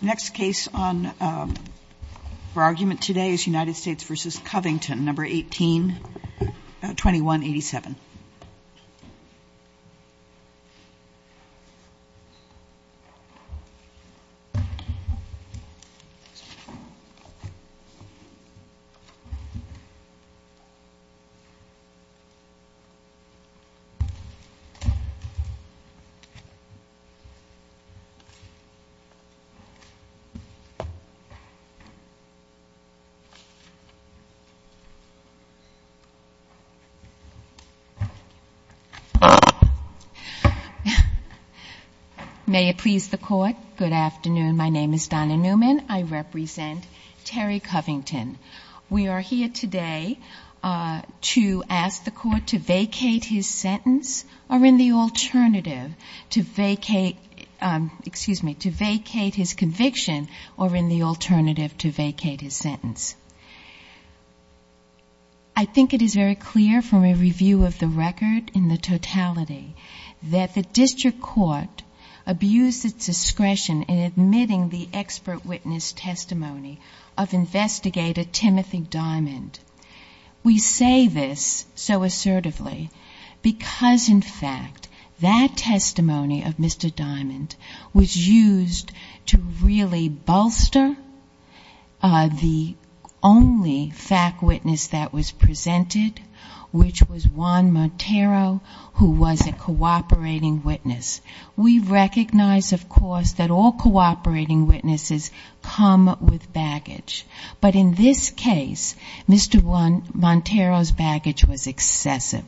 The next case on for argument today is United States v. Covington, No. 18-2187. May it please the Court, good afternoon, my name is Donna Newman, I represent Terry Covington. We are here today to ask the Court to vacate his sentence or in the alternative to vacate his conviction. I think it is very clear from a review of the record in the totality that the district court abused its discretion in admitting the expert witness testimony of investigator Timothy Diamond. We say this so assertively because, in fact, that testimony of Mr. Diamond was used to really bolster the only fact witness that was presented, which was Juan Montero, who was a cooperating witness. We recognize, of course, that all cooperating witnesses come with baggage. But in this case, Mr. Montero's baggage was excessive.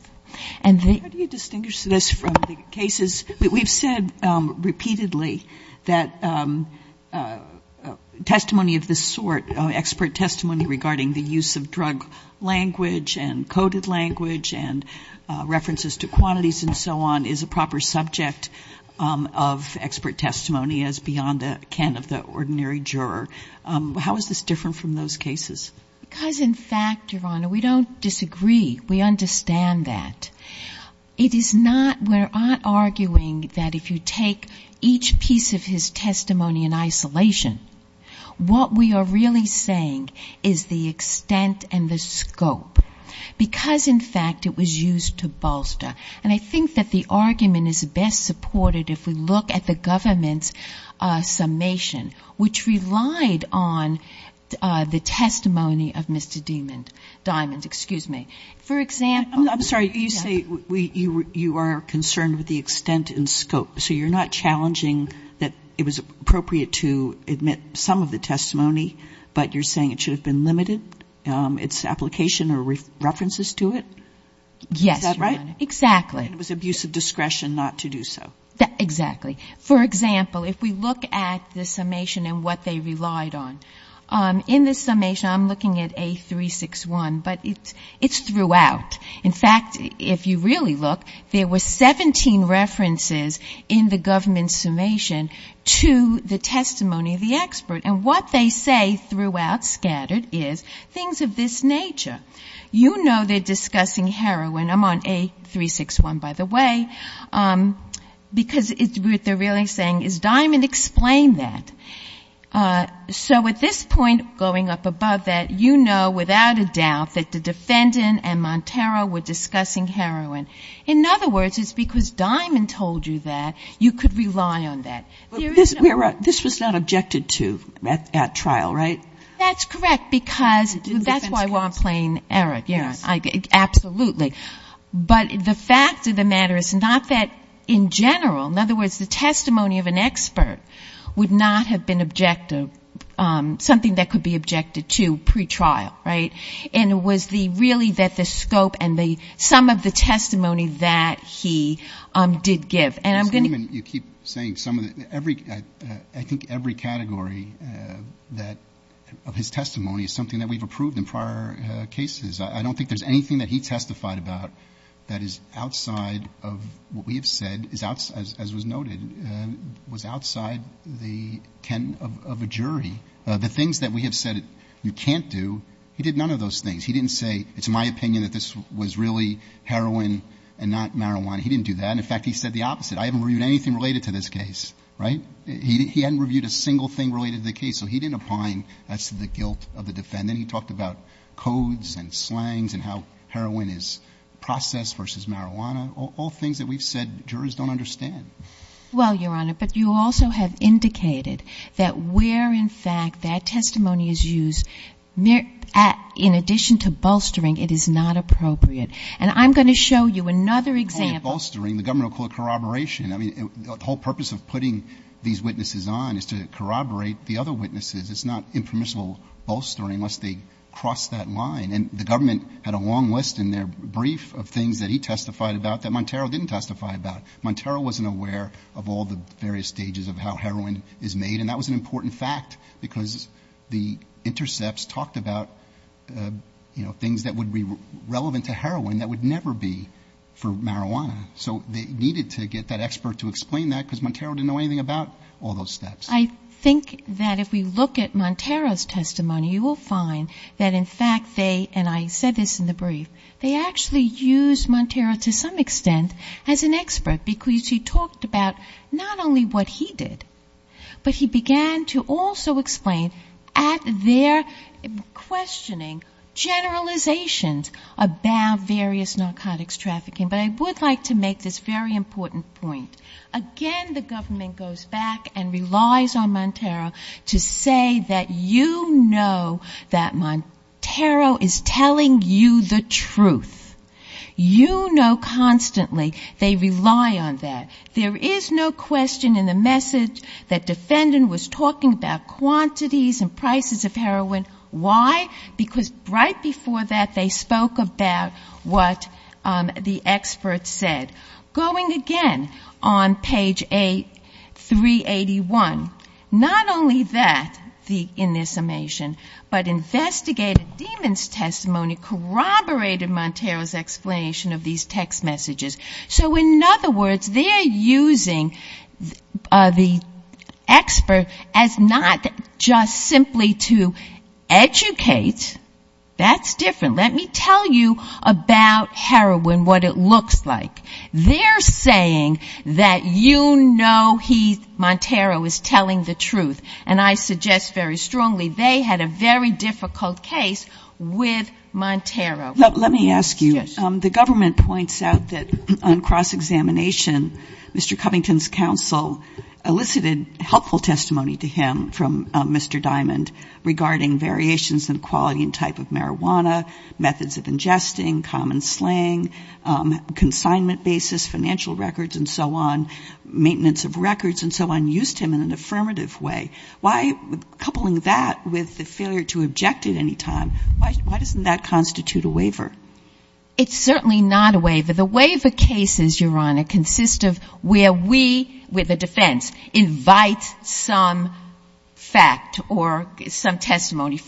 How do you distinguish this from the cases? We've said repeatedly that testimony of this sort, expert testimony regarding the use of drug language and coded language and references to quantities and so on, is a proper subject of expert testimony as beyond the can of the ordinary juror. How is this different from those cases? Because, in fact, Your Honor, we don't disagree. We understand that. It is not we're arguing that if you take each piece of his testimony in isolation, what we are really saying is the extent and the scope. Because, in fact, it was used to bolster. And I think that the argument is best supported if we look at the government's summation, which relied on the testimony of Mr. Diamond. For example — I'm sorry. You say you are concerned with the extent and scope. So you're not challenging that it was appropriate to admit some of the testimony, but you're saying it should have been limited, its application or references to it? Yes, Your Honor. Is that right? Exactly. And it was abuse of discretion not to do so. Exactly. For example, if we look at the summation and what they relied on, in this summation I'm looking at A361, but it's throughout. In fact, if you really look, there were 17 references in the government's summation to the testimony of the expert. And what they say throughout, scattered, is things of this nature. You know they're discussing heroin — I'm on A361, by the way — because what they're really saying is, Diamond, explain that. So at this point, going up above that, you know without a doubt that the defendant and Montero were discussing heroin. In other words, it's because Diamond told you that, you could rely on that. But this was not objected to at trial, right? That's correct, because that's why we're on plain error. Absolutely. But the fact of the matter is not that in general. In other words, the testimony of an expert would not have been objected — something that could be objected to pre-trial, right? And it was the — really that the scope and the — some of the testimony that he did give. As a human, you keep saying some of the — every — I think every category that — of his testimony is something that we've approved in prior cases. I don't think there's anything that he testified about that is outside of what we have said, is outside — as was noted, was outside the ken of a jury. The things that we have said you can't do, he did none of those things. He didn't say, it's my opinion that this was really heroin and not marijuana. He didn't do that. And in fact, he said the opposite. I haven't reviewed anything related to this case, right? He hadn't reviewed a single thing related to the case. So he didn't opine as to the guilt of the defendant. He talked about codes and slangs and how heroin is processed versus marijuana. All things that we've said jurors don't understand. Well, Your Honor, but you also have indicated that where in fact that testimony is used, in addition to bolstering, it is not appropriate. And I'm going to show you another example. When you say bolstering, the government will call it corroboration. I mean, the whole purpose of putting these witnesses on is to corroborate the other witnesses. It's not impermissible bolstering unless they cross that line. And the government had a long list in their brief of things that he testified about that Montero didn't testify about. Montero wasn't aware of all the various stages of how heroin is made. And that was an important fact, because the intercepts talked about, you know, things that would be relevant to heroin that would never be for marijuana. So they needed to get that expert to explain that, because Montero didn't know anything about all those steps. I think that if we look at Montero's testimony, you will find that in fact they, and I said this in the brief, they actually used Montero to some extent as an expert, because he talked about not only what he did, but he began to also explain at their questioning generalizations about various narcotics trafficking. But I would like to make this very important point. Again, the government goes back and relies on Montero to say that you know that Montero is telling you the truth. You know constantly they rely on that. There is no question in the message that defendant was talking about quantities and prices of heroin. Why? Because right before that they spoke about what the expert said. Going again on page 381, not only that, in this summation, but investigated demons testimony corroborated Montero's explanation of these text messages. So in other words, they are using the expert as not just simply to educate. That's different. Let me tell you about heroin, what it looks like. They're saying that you know he, Montero, is telling the truth. And I suggest very strongly they had a very difficult case with Montero. Let me ask you, the government points out that on cross-examination, Mr. Covington's counsel elicited helpful testimony to him from Mr. Diamond regarding variations in quality and type of marijuana, methods of ingesting, common slang, consignment basis, financial records and so on, maintenance of records and so on used him in an affirmative way. Why, coupling that with the failure to object at any time, why doesn't that constitute a waiver? It's certainly not a waiver. The waiver cases, Your Honor, consist of where we, with the defense, invite some fact or some testimony,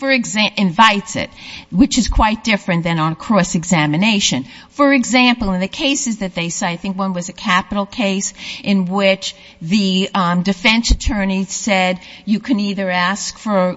invites it, which is quite different than on cross-examination. For example, in the cases that they cite, I think one was a capital case in which the defense attorney said you can either ask for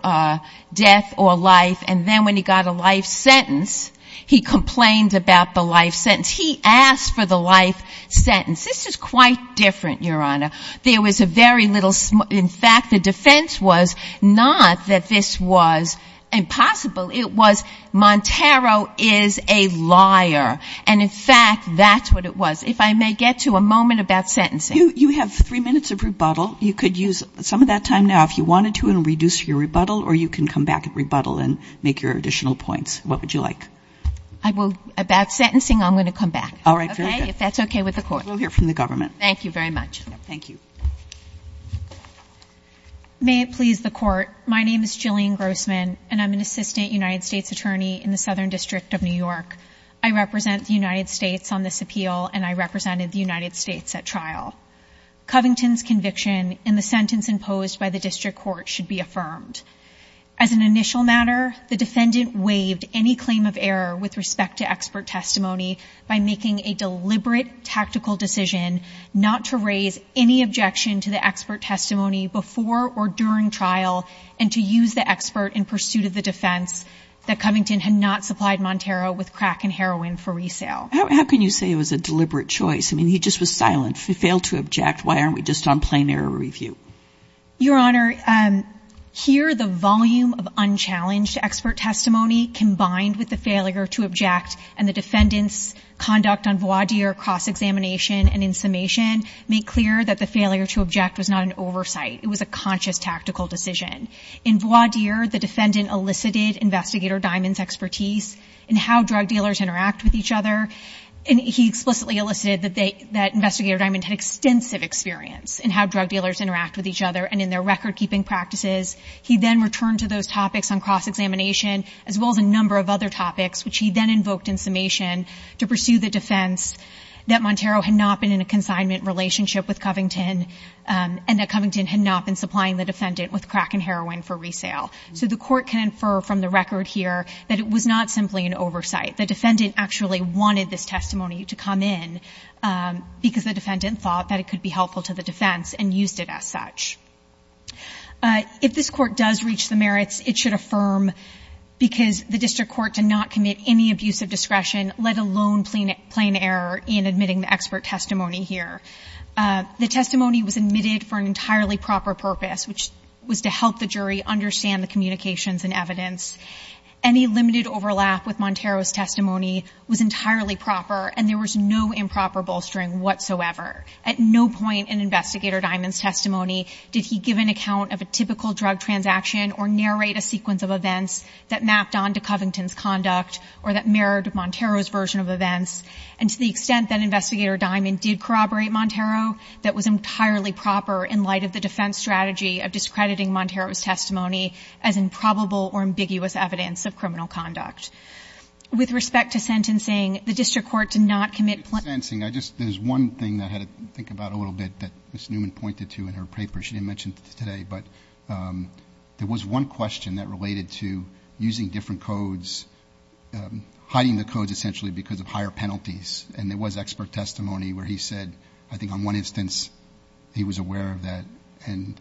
death or life, and then when he got a life sentence, he complained about the life sentence. He asked for the life sentence. This is quite different, Your Honor. There was a very little, in fact, the defense was not that this was impossible. It was Montero is a liar. And in fact, that's what it was. If I may get to a moment about sentencing. You have three minutes of rebuttal. You could use some of that time now if you wanted to and reduce your rebuttal, or you can come back at rebuttal and make your additional points. What would you like? I will, about sentencing, I'm going to come back. All right. Very good. Okay? If that's okay with the Court. We'll hear from the government. Thank you very much. Thank you. May it please the Court, my name is Jillian Grossman, and I'm an assistant United States attorney in the Southern District of New York. I represent the United States on this appeal, and I represented the United States at trial. Covington's conviction in the sentence imposed by the district court should be affirmed. As an initial matter, the defendant waived any claim of error with respect to expert testimony by making a deliberate tactical decision not to raise any objection to the expert testimony before or during trial and to use the expert in pursuit of the defense that Covington had not supplied Montero with crack and heroin for resale. How can you say it was a deliberate choice? I mean, he just was silent. If he failed to object, why aren't we just on plain error review? Your Honor, here the volume of unchallenged expert testimony combined with the failure to object and the defendant's conduct on voir dire cross-examination and insummation make clear that the failure to object was not an oversight. It was a conscious tactical decision. In voir dire, the defendant elicited Investigator Diamond's expertise in how drug dealers interact with each other, and he explicitly elicited that Investigator Diamond had extensive experience in how drug dealers interact with each other and in their record-keeping practices. He then returned to those topics on cross-examination as well as a number of other topics, which he then invoked in summation to pursue the defense that Montero had not been in a consignment relationship with Covington and that Covington had not been supplying the defendant with crack and heroin for resale. So the court can infer from the record here that it was not simply an oversight. The defendant actually wanted this testimony to come in because the defendant thought that it could be helpful to the defense and used it as such. If this Court does reach the merits, it should affirm, because the district court did not commit any abuse of discretion, let alone plain error in admitting the expert testimony here. The testimony was admitted for an entirely proper purpose, which was to help the jury understand the communications and evidence. Any limited overlap with Montero's testimony was entirely proper, and there was no improper bolstering whatsoever. At no point in Investigator Diamond's testimony did he give an account of a typical drug transaction or narrate a sequence of events that mapped onto Covington's conduct or that mirrored Montero's version of events. And to the extent that Investigator Diamond did corroborate Montero, that was entirely proper in light of the defense strategy of discrediting Montero's testimony as improbable or ambiguous evidence of criminal conduct. With respect to sentencing, the district court did not commit plain error in admitting the expert testimony here. In terms of sentencing, there's one thing that I had to think about a little bit that Ms. Newman pointed to in her paper. She didn't mention it today, but there was one question that related to using different codes, hiding the codes essentially because of higher penalties. And there was expert testimony where he said, I think on one instance, he was aware of that. And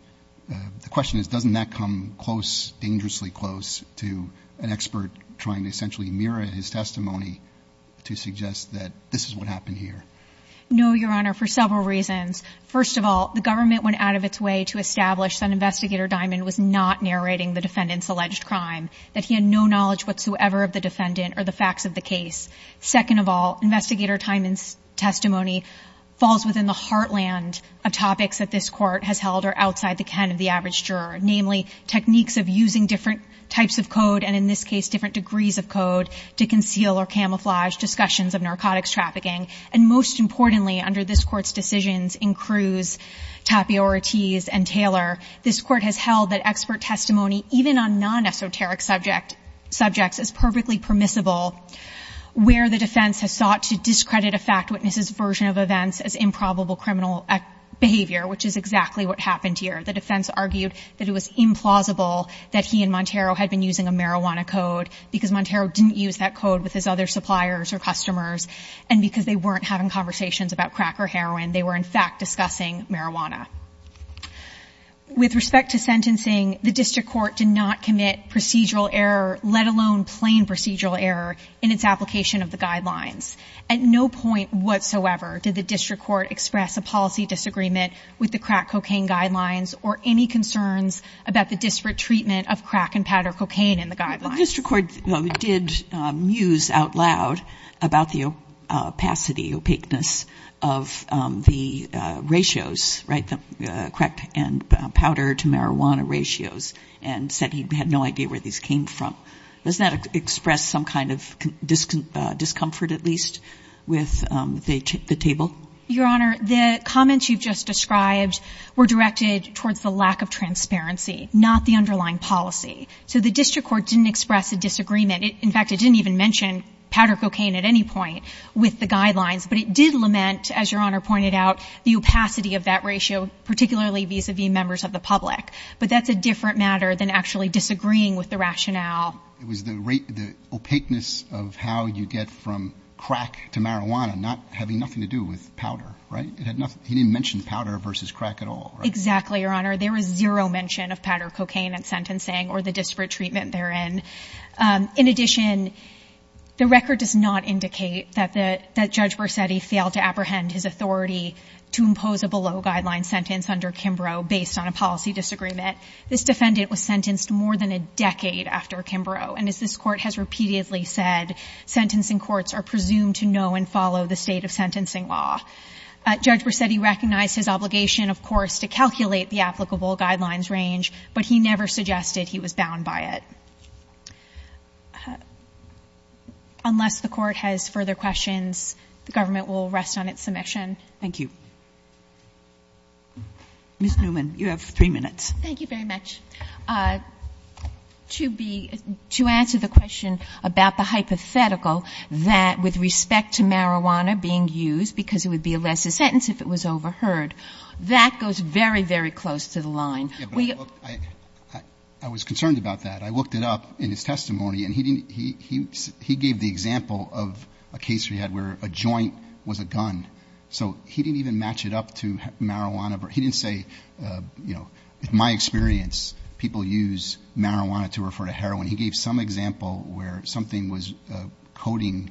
the question is, doesn't that come close, dangerously close, to an expert trying to essentially mirror his testimony to suggest that this is what happened here? No, Your Honor, for several reasons. First of all, the government went out of its way to establish that Investigator Diamond was not narrating the defendant's alleged crime, that he had no knowledge whatsoever of the defendant or the facts of the case. Second of all, Investigator Diamond's testimony falls within the heartland of topics that this court has held are outside the can of the average juror, namely techniques of using different types of code, and in this case, different degrees of code, to conceal or camouflage discussions of narcotics trafficking. And most importantly, under this court's decisions in Cruz, Tapiorites, and Taylor, this court has held that expert testimony, even on non-esoteric subjects, is perfectly permissible, where the defense has sought to discredit a fact witness's version of events as improbable criminal behavior, which is exactly what happened here. The defense argued that it was implausible that he and Montero had been using a marijuana code because Montero didn't use that code with his other suppliers or customers, and because they weren't having conversations about crack or heroin. They were, in fact, discussing marijuana. With respect to sentencing, the district court did not commit procedural error, let alone plain procedural error, in its application of the guidelines. At no point whatsoever did the district court express a policy disagreement with the crack cocaine guidelines or any concerns about the disparate treatment of crack and powder cocaine in the guidelines. The district court did muse out loud about the opacity, opaqueness of the ratios, right, the crack and powder to marijuana ratios, and said he had no idea where these came from. Does that express some kind of discomfort, at least, with the table? Your Honor, the comments you've just described were directed towards the lack of transparency, not the underlying policy. So the district court didn't express a disagreement. In fact, it didn't even mention powder cocaine at any point with the guidelines. But it did lament, as Your Honor pointed out, the opacity of that ratio, particularly vis-a-vis members of the public. But that's a different matter than actually disagreeing with the rationale. It was the rate, the opaqueness of how you get from crack to marijuana not having nothing to do with powder, right? It had nothing, he didn't mention powder versus crack at all, right? Exactly, Your Honor. There was zero mention of powder cocaine in sentencing or the disparate treatment therein. In addition, the record does not indicate that Judge Borsetti failed to apprehend his authority to impose a below-guideline sentence under Kimbrough based on a policy disagreement. This defendant was sentenced more than a decade after Kimbrough. And as this Court has repeatedly said, sentencing courts are presumed to know and follow the state of sentencing law. Judge Borsetti recognized his obligation, of course, to calculate the applicable guidelines range, but he never suggested he was bound by it. Unless the Court has further questions, the government will rest on its submission. Thank you. Ms. Newman, you have three minutes. Thank you very much. To answer the question about the hypothetical that with respect to marijuana being used because it would be a lesser sentence if it was overheard, that goes very, very close to the line. I was concerned about that. I looked it up in his testimony, and he gave the example of a case we had where a joint was a gun. So he didn't even match it up to marijuana. He didn't say, you know, in my experience, people use marijuana to refer to heroin. He gave some example where something was coding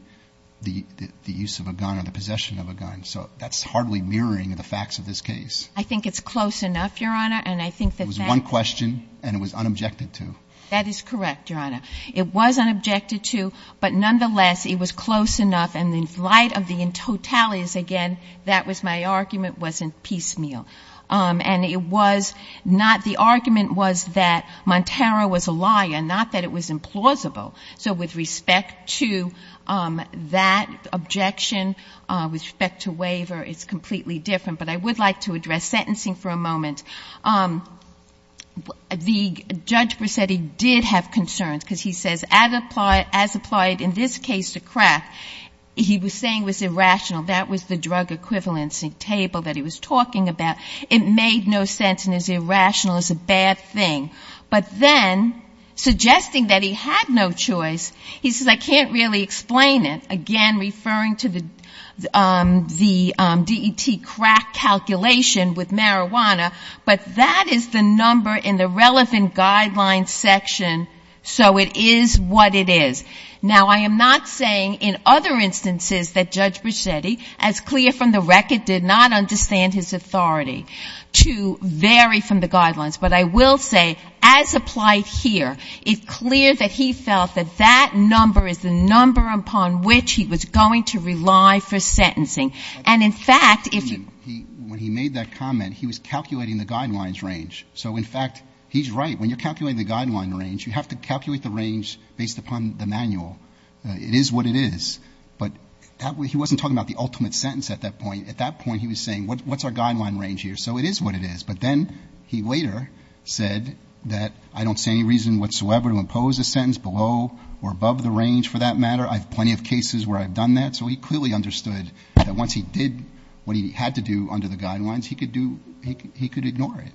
the use of a gun or the possession of a gun. So that's hardly mirroring the facts of this case. I think it's close enough, Your Honor. And I think that that- It was one question, and it was unobjected to. That is correct, Your Honor. It was unobjected to, but nonetheless, it was close enough. And in light of the totalities, again, that was my argument, wasn't piecemeal. And it was not- the argument was that Montero was a liar, not that it was implausible. So with respect to that objection, with respect to waiver, it's completely different. But I would like to address sentencing for a moment. The judge Presetti did have concerns because he says, as applied in this case to Kraft, he was saying it was irrational. That was the drug equivalency table that he was talking about. It made no sense and is irrational, is a bad thing. But then, suggesting that he had no choice, he says, I can't really explain it. Again, referring to the DET crack calculation with marijuana. But that is the number in the relevant guidelines section, so it is what it is. Now, I am not saying in other instances that Judge Presetti, as clear from the record, did not understand his authority to vary from the guidelines. But I will say, as applied here, it's clear that he felt that that number is the number upon which he was going to rely for sentencing. And in fact, if you- When he made that comment, he was calculating the guidelines range. So in fact, he's right. When you're calculating the guideline range, you have to calculate the range based upon the manual. It is what it is. But he wasn't talking about the ultimate sentence at that point. At that point, he was saying, what's our guideline range here? So it is what it is. But then, he later said that I don't see any reason whatsoever to impose a sentence below or above the range for that matter. I have plenty of cases where I've done that. So he clearly understood that once he did what he had to do under the guidelines, he could do- he could ignore it.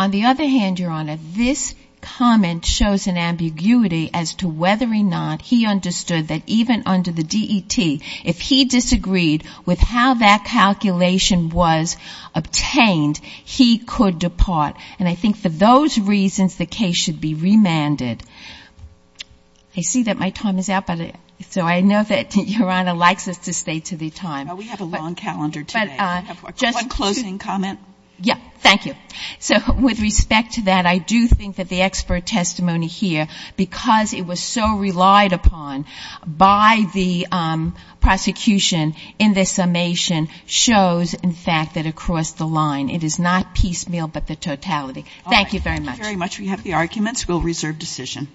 On the other hand, Your Honor, this comment shows an ambiguity as to whether or not he understood that even under the DET, if he disagreed with how that calculation was obtained, he could depart. And I think for those reasons, the case should be remanded. I see that my time is up. So I know that Your Honor likes us to stay to the time. Well, we have a long calendar today. One closing comment. Yeah. Thank you. So with respect to that, I do think that the expert testimony here, because it was so relied upon by the prosecution in this summation, shows, in fact, that across the line, it is not piecemeal but the totality. Thank you very much. Thank you very much. We have the arguments. We'll reserve decision.